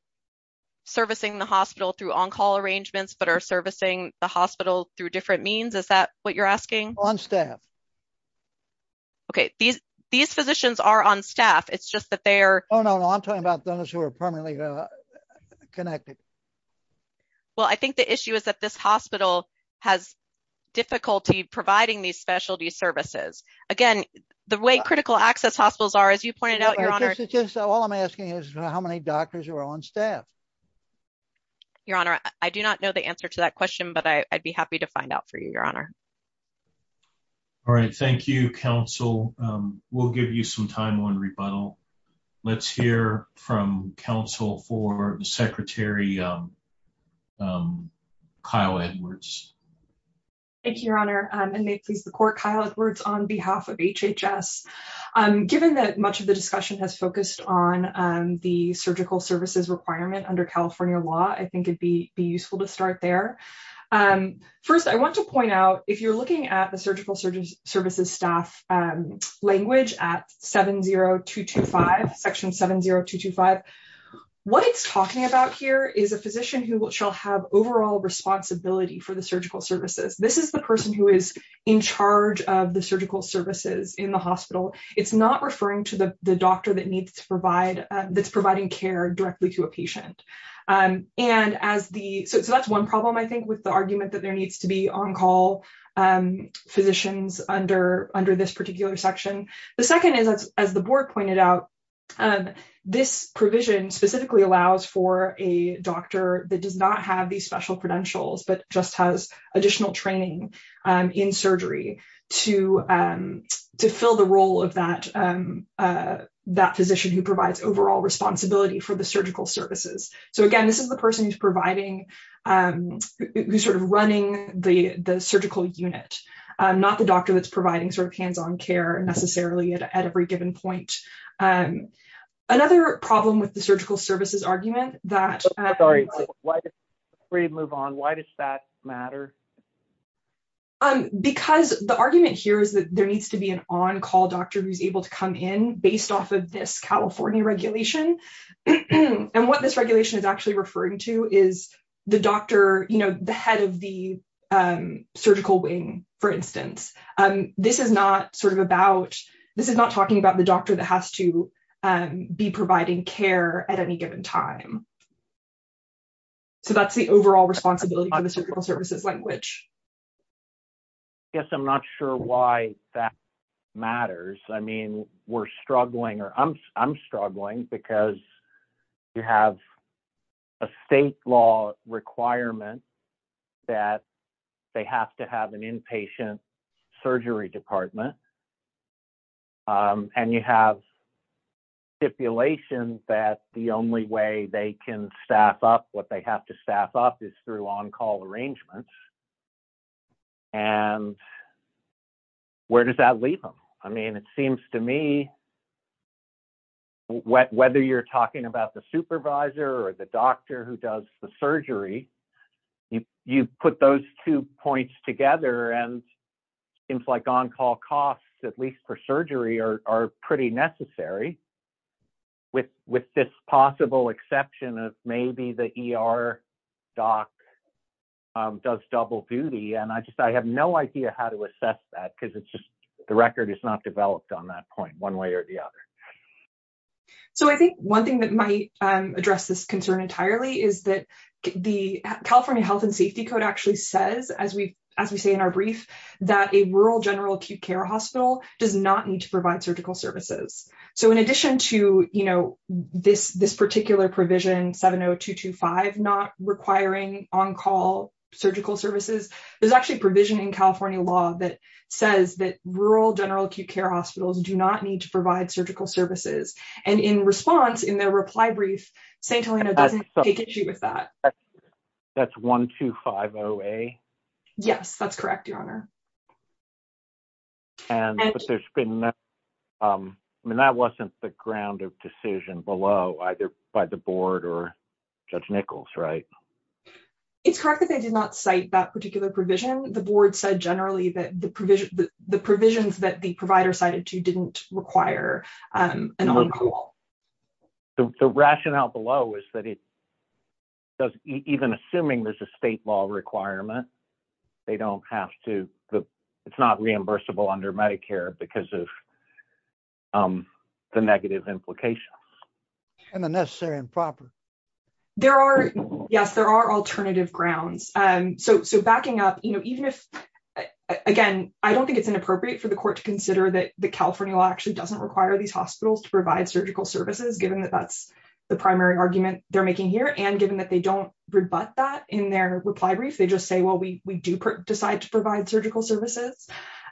servicing the hospital through on call arrangements but are servicing the hospital through different means is that what you're asking on staff. Okay, these, these physicians are on staff, it's just that they're on on talking about those who are permanently connected. Well, I think the issue is that this hospital has difficulty providing these specialty services. Again, the way critical access hospitals are as you pointed out your honor. All I'm asking is how many doctors are on staff. Your honor, I do not know the answer to that question but I'd be happy to find out for you, your honor. All right, thank you counsel will give you some time on rebuttal. Let's hear from Council for the Secretary. Kyle Edwards. Thank you, Your Honor, and may please the court Kyle Edwards on behalf of HHS. Given that much of the discussion has focused on the surgical services requirement under California law I think it'd be useful to start there. First I want to point out, if you're looking at the surgical services staff language at 70225 section 70225. What it's talking about here is a physician who will shall have overall responsibility for the surgical services, this is the person who is in charge of the surgical services in the hospital. It's not referring to the doctor that needs to provide that's providing care directly to a patient. And as the so that's one problem I think with the argument that there needs to be on call physicians under under this particular section. The second is, as the board pointed out, and this provision specifically allows for a doctor that does not have the special credentials but just has additional training in surgery to to fill the role of that. That physician who provides overall responsibility for the surgical services. So again, this is the person who's providing who sort of running the the surgical unit, not the doctor that's providing sort of hands on care necessarily at every given point. And another problem with the surgical services argument that. Why did we move on, why does that matter. Because the argument here is that there needs to be an on call doctor who's able to come in, based off of this California regulation. And what this regulation is actually referring to is the doctor, you know, the head of the surgical wing, for instance, and this is not sort of about this is not talking about the doctor that has to be providing care at any given time. So that's the overall responsibility services language. Yes, I'm not sure why that matters. I mean, we're struggling or I'm, I'm struggling because you have a state law requirement that they have to have an inpatient surgery department. And you have stipulations that the only way they can staff up what they have to staff up is through on call arrangements. And where does that leave them. I mean, it seems to me. Whether you're talking about the supervisor or the doctor who does the surgery, you put those two points together and seems like on call costs, at least for surgery are pretty necessary. With, with this possible exception of maybe the ER doc does double duty and I just I have no idea how to assess that because it's just the record is not developed on that point one way or the other. So I think one thing that might address this concern entirely is that the California Health and Safety Code actually says as we, as we say in our brief that a rural general acute care hospital does not need to provide surgical services. So in addition to, you know, this, this particular provision 70225 not requiring on call surgical services. There's actually provision in California law that says that rural general acute care hospitals do not need to provide surgical services, and in response in their reply brief St Helena doesn't take issue with that. That's 12508. Yes, that's correct, Your Honor. And there's been. I mean that wasn't the ground of decision below either by the board or judge Nichols right. It's correct that they did not cite that particular provision, the board said generally that the provision, the provisions that the provider cited to didn't require an on call. The rationale below is that it doesn't even assuming there's a state law requirement. They don't have to. It's not reimbursable under Medicare because of the negative implications, and the necessary and proper. There are. Yes, there are alternative grounds. And so backing up, you know, even if, again, I don't think it's inappropriate for the court to consider that the California law actually doesn't require these hospitals to provide surgical services given that that's the primary argument, they're making here and given that they don't rebut that in their reply brief they just say well we do decide to provide surgical services.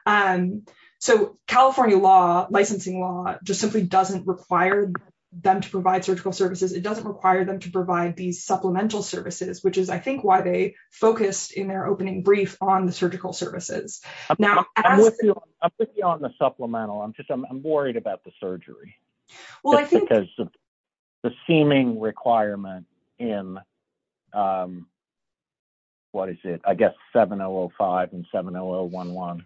And so, California law licensing law, just simply doesn't require them to provide surgical services it doesn't require them to provide these supplemental services which is I think why they focused in their opening brief on the surgical services. Now, on the supplemental I'm just I'm worried about the surgery. The seeming requirement in. What is it, I guess, 705 and 7011.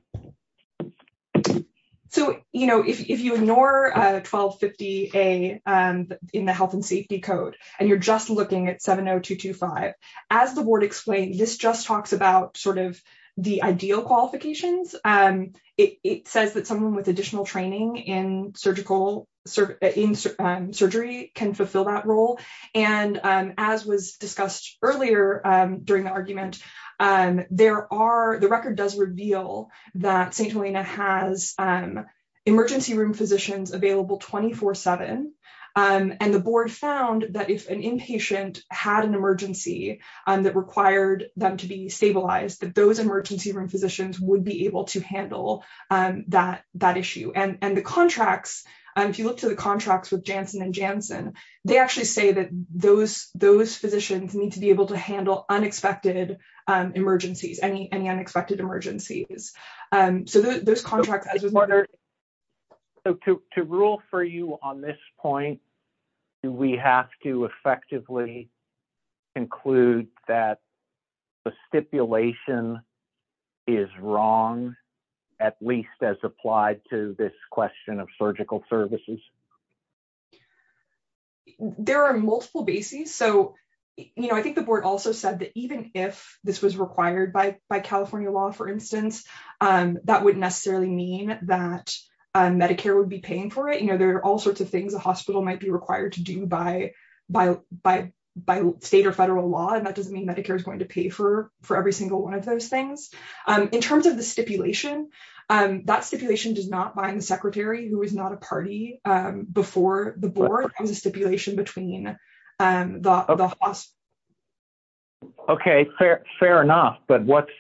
So, you know, if you ignore 1250 a in the health and safety code, and you're just looking at 70225, as the board explained this just talks about sort of the ideal qualifications, and it says that someone with additional training in surgical surgery can fulfill that role. And as was discussed earlier during the argument, and there are the record does reveal that St Helena has emergency room physicians available 24 seven, and the board found that if an inpatient had an emergency that required them to be stabilized that those emergency room physicians would be able to handle that that issue and and the contracts. And if you look to the contracts with Jansen and Jansen, they actually say that those those physicians need to be able to handle unexpected emergencies any any unexpected emergencies. So those contracts. To rule for you on this point. Do we have to effectively include that the stipulation is wrong, at least as applied to this question of surgical services. There are multiple bases. So, you know, I think the board also said that even if this was required by by California law, for instance, that wouldn't necessarily mean that Medicare would be paying for it you know there are all sorts of things a hospital might be required to do by, by, by, by state or federal law and that doesn't mean Medicare is going to pay for for every single one of those things. In terms of the stipulation, and that stipulation does not bind the secretary who is not a party before the board was a stipulation between the hospital. Okay, fair, fair enough, but what's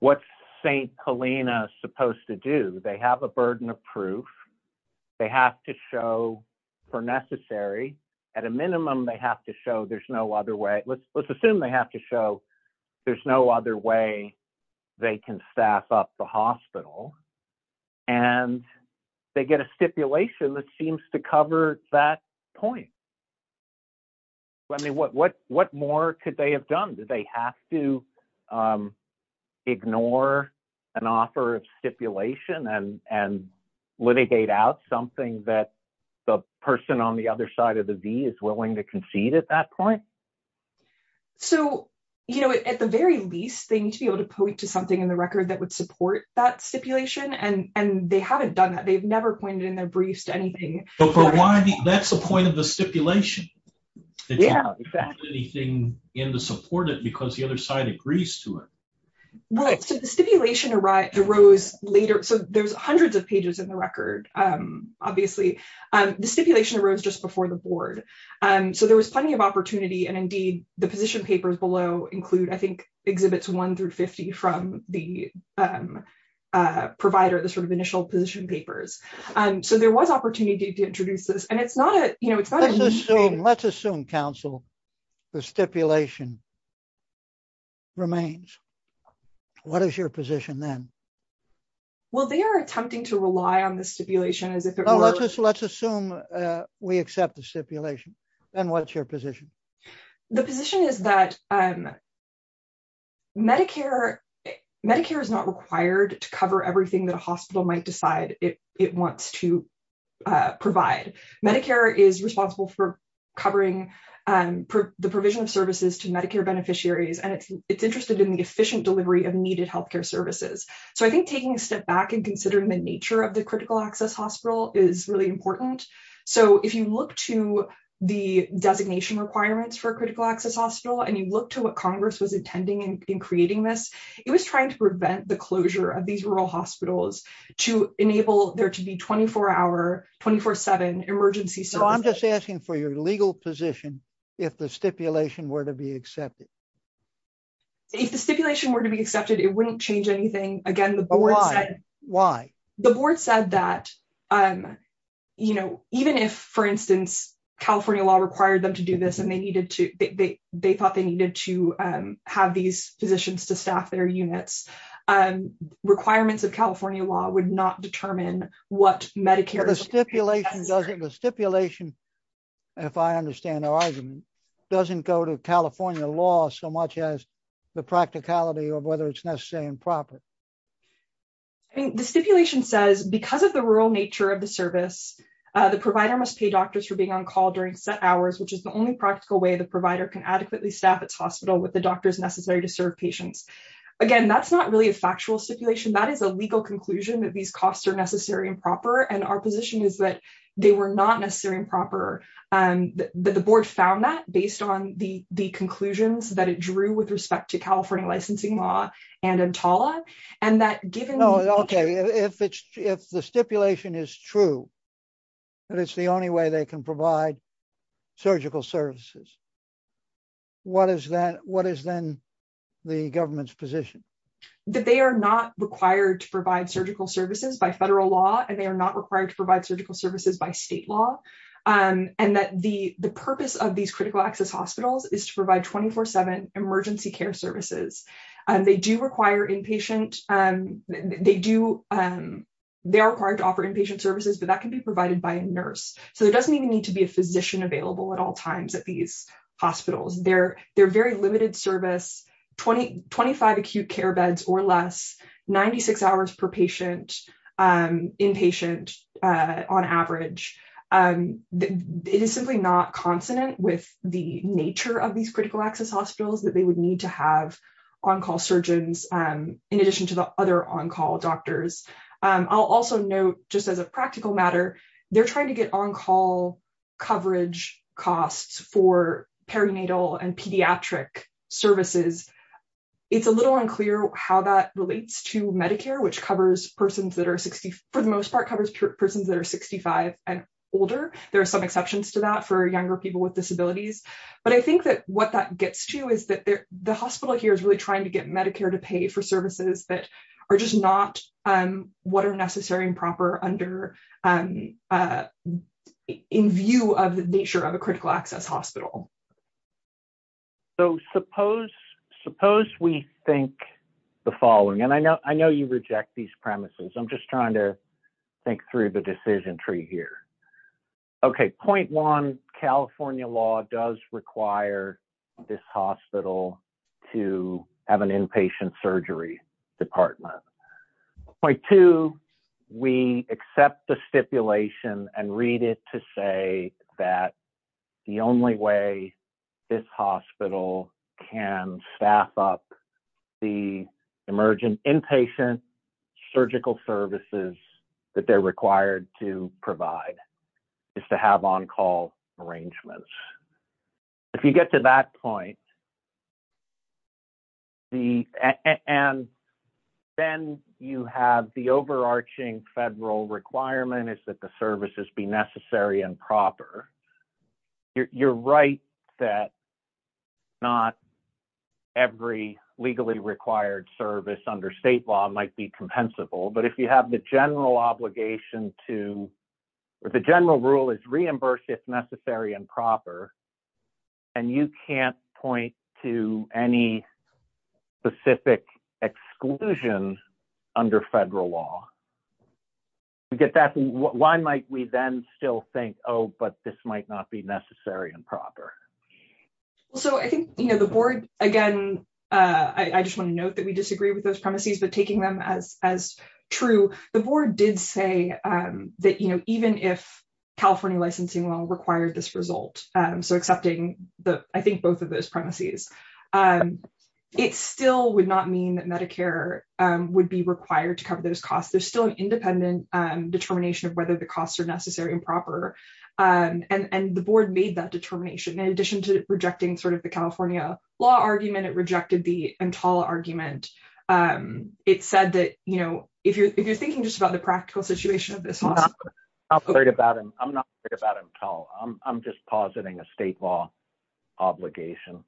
what St Helena supposed to do they have a burden of proof. They have to show for necessary at a minimum they have to show there's no other way let's let's assume they have to show there's no other way they can staff up the hospital, and they get a stipulation that seems to cover that point. Let me what what what more could they have done that they have to ignore an offer of stipulation and and litigate out something that the person on the other side of the V is willing to concede at that point. So, you know, at the very least thing to be able to point to something in the record that would support that stipulation and and they haven't done that they've never pointed in their briefs to anything. That's the point of the stipulation. Yeah, anything in the support it because the other side agrees to it. Okay, so the stipulation arrived arose later so there's hundreds of pages in the record. Obviously, the stipulation arose just before the board. And so there was plenty of opportunity and indeed the position papers below include I think exhibits one through 50 from the provider the sort of initial position papers. And so there was opportunity to introduce this and it's not a, you know, let's assume Council, the stipulation remains. What is your position then. Well they are attempting to rely on the stipulation as if it was let's assume we accept the stipulation. And what's your position. The position is that Medicare, Medicare is not required to cover everything that a hospital might decide it, it wants to provide Medicare is responsible for covering the provision of services to Medicare beneficiaries and it's, it's interested in the efficient And so, you know, when you look at the stipulation requirements for critical access hospital and you look to what Congress was intending and creating this, it was trying to prevent the closure of these rural hospitals to enable there to be 24 hour 24 seven emergency. So I'm just asking for your legal position. If the stipulation were to be accepted. If the stipulation were to be accepted it wouldn't change anything. Again, the board. Why, the board said that, um, you know, even if, for instance, California law required them to do this and they needed to, they, they thought they needed to have these physicians to staff their units and requirements of California law would not determine what Medicare stipulation doesn't the stipulation. If I understand the argument doesn't go to California law so much as the practicality of whether it's necessary and proper. The stipulation says because of the rural nature of the service. The provider must pay doctors for being on call during set hours which is the only practical way the provider can adequately staff its hospital with the doctors necessary to serve patients. Again, that's not really a factual stipulation that is a legal conclusion that these costs are necessary and proper and our position is that they were not necessary and proper. The board found that based on the, the conclusions that it drew with respect to California licensing law and and Tala, and that given. Okay, if it's if the stipulation is true. But it's the only way they can provide surgical services. What is that what is then the government's position that they are not required to provide surgical services by federal law and they are not required to provide surgical services by state law, and that the, the purpose of these critical access hospitals is to provide 24 seven emergency care services, and they do require inpatient, and they do. They are required to offer inpatient services but that can be provided by a nurse, so there doesn't even need to be a physician available at all times at these hospitals, they're, they're very limited service 2025 acute care beds or less 96 hours per patient inpatient, on average, and it is simply not consonant with the nature of these critical access hospitals that they would need to have on call surgeons. In addition to the other on call doctors. I'll also note, just as a practical matter, they're trying to get on call coverage costs for perinatal and pediatric services. It's a little unclear how that relates to Medicare which covers persons that are 60, for the most part covers persons that are 65 and older, there are some exceptions to that for younger people with disabilities. But I think that what that gets to is that the hospital here is really trying to get Medicare to pay for services that are just not what are necessary and proper under in view of the nature of a critical access hospital. So suppose, suppose we think the following and I know I know you reject these premises I'm just trying to think through the decision tree here. Okay, point one, California law does require this hospital to have an inpatient surgery department. Point two, we accept the stipulation and read it to say that the only way this hospital can staff up the emergent inpatient surgical services that they're required to provide is to have on call arrangements. If you get to that point. And then you have the overarching federal requirement is that the services be necessary and proper. You're right that not every legally required service under state law might be compensable but if you have the general obligation to the general rule is reimbursed if necessary and proper. And you can't point to any specific exclusion under federal law. We get that. Why might we then still think, oh, but this might not be necessary and proper. So I think, you know, the board. Again, I just want to note that we disagree with those premises, but taking them as as true the board did say that, you know, even if California licensing law required this result. So accepting the I think both of those premises, and it still would not mean that Medicare would be required to cover those costs, there's still an independent determination of whether the costs are necessary and proper. And the board made that determination in addition to rejecting sort of the California law argument it rejected the and tall argument. It said that, you know, if you're if you're thinking just about the practical situation of this. I'm not worried about him. I'm not worried about him at all. I'm just positing a state law obligation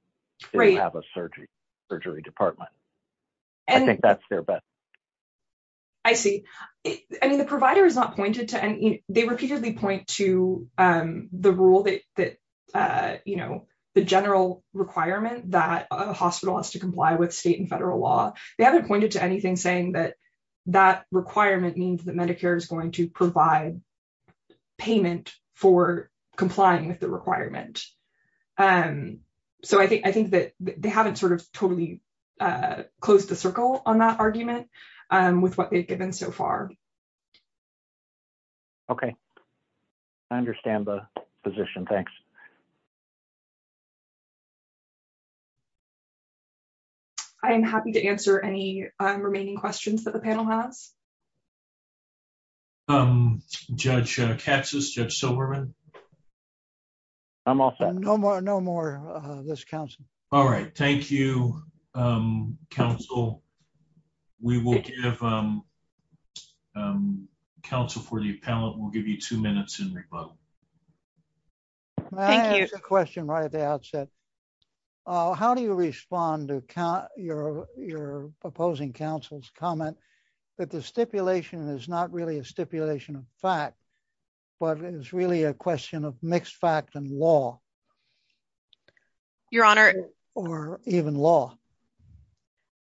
to have a surgery, surgery department. And I think that's their best. I see. I mean the provider is not pointed to and they repeatedly point to the rule that, you know, the general requirement that a hospital has to comply with state and federal law. They haven't pointed to anything saying that that requirement means that Medicare is going to provide payment for complying with the requirement. And so I think I think that they haven't sort of totally closed the circle on that argument with what they've given so far. Okay, I understand the position. Thanks. Thank you. I'm happy to answer any remaining questions that the panel has. I'm judge catches Judge Silverman. I'm also no more no more. This counts. All right. Thank you. Council, we will give council for the panel, we'll give you two minutes in rebuttal. Question right at the outset. How do you respond to count your, your opposing councils comment that the stipulation is not really a stipulation of fact, but it's really a question of mixed fact and law. Your Honor, or even law.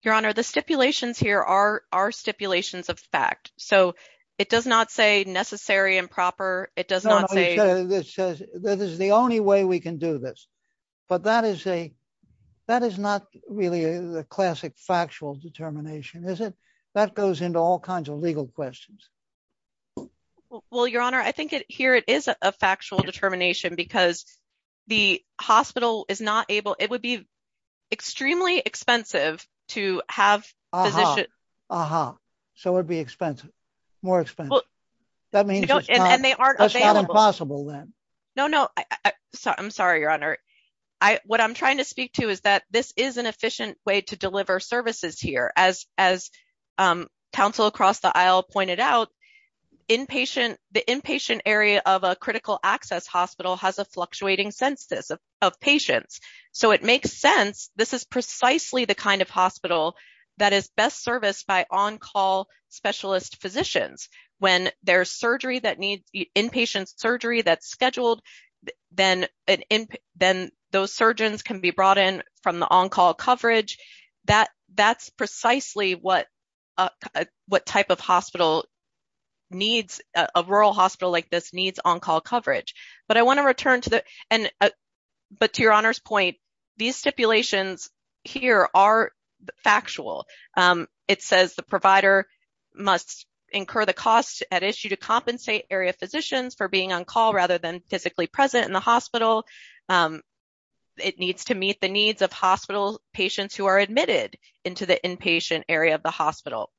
Your Honor, the stipulations here are our stipulations of fact, so it does not say necessary and proper, it does not say this says that is the only way we can do this. But that is a, that is not really a classic factual determination is it that goes into all kinds of legal questions. Well, Your Honor, I think it here it is a factual determination because the hospital is not able, it would be extremely expensive to have. Uh huh. So it'd be expensive, more expensive. No, no, I'm sorry, Your Honor. I, what I'm trying to speak to is that this is an efficient way to deliver services here as as council across the aisle pointed out inpatient, the inpatient area of a critical access hospital has a fluctuating census of patients. So it makes sense, this is precisely the kind of hospital that is best service by on call specialist physicians, when there's surgery that needs the inpatient surgery that's scheduled, then, then those surgeons can be brought in from the on call coverage that that's precisely what, what type of hospital needs a rural hospital like this needs on call coverage, but I want to return to that. And, but to Your Honor's point, these stipulations here are factual. It says the provider must incur the cost at issue to compensate area physicians for being on call rather than physically present in the hospital. It needs to meet the needs of hospital patients who are admitted into the inpatient area of the hospital.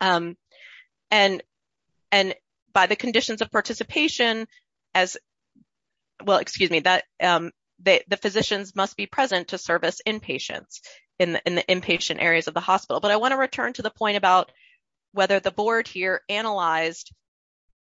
And, and by the conditions of participation as well excuse me that the physicians must be present to service inpatients in the inpatient areas of the hospital but I want to return to the point about whether the board here analyzed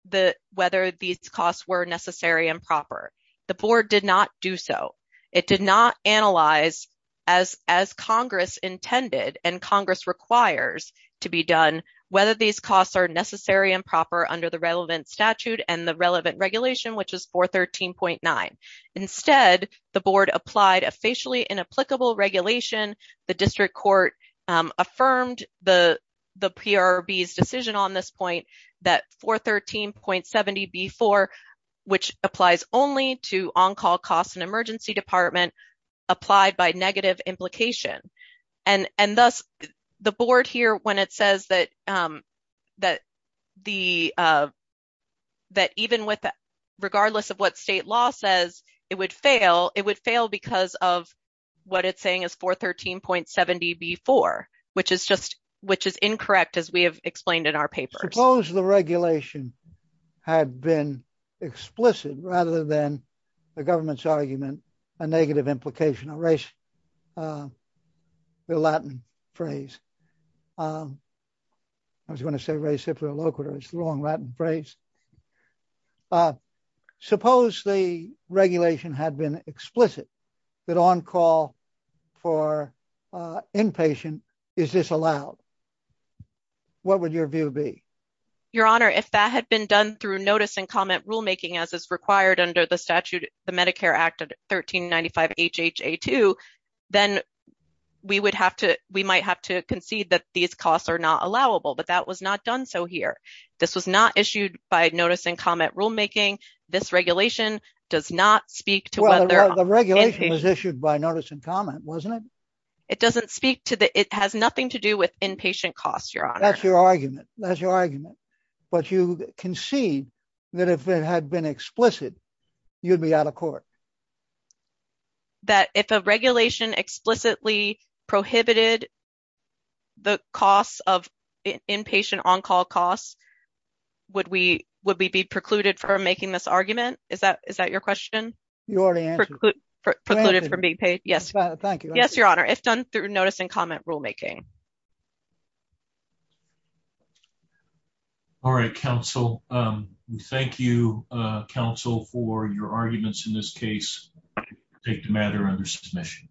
the, whether these costs were necessary and proper. The board did not do so. It did not analyze, as, as Congress intended and Congress requires to be done, whether these costs are necessary and proper under the relevant statute and the relevant regulation which is for 13.9. Instead, the board applied a facially inapplicable regulation, the district court affirmed the PRB's decision on this point that 413.70B4, which applies only to on call costs and emergency department applied by negative implication. And, and thus, the board here when it says that, that the, that even with that, regardless of what state law says it would fail, it would fail because of what it's saying is 413.70B4, which is just, which is incorrect as we have explained in our papers. Suppose the regulation had been explicit rather than the government's argument, a negative implication, a race, the Latin phrase. I was going to say race, if they're local, it's the wrong Latin phrase. Suppose the regulation had been explicit that on call for inpatient, is this allowed? What would your view be? Your Honor, if that had been done through notice and comment rulemaking, as is required under the statute, the Medicare Act of 1395HHA2, then we would have to, we might have to concede that these costs are not allowable. But that was not done so here. This was not issued by notice and comment rulemaking. This regulation does not speak to whether. The regulation was issued by notice and comment, wasn't it? It doesn't speak to the, it has nothing to do with inpatient costs, Your Honor. That's your argument. That's your argument. But you concede that if it had been explicit, you'd be out of court. That if a regulation explicitly prohibited the costs of inpatient on-call costs, would we be precluded from making this argument? Is that your question? You already answered it. Yes, Your Honor, if done through notice and comment rulemaking. All right, counsel. Thank you, counsel, for your arguments in this case. I take the matter under submission.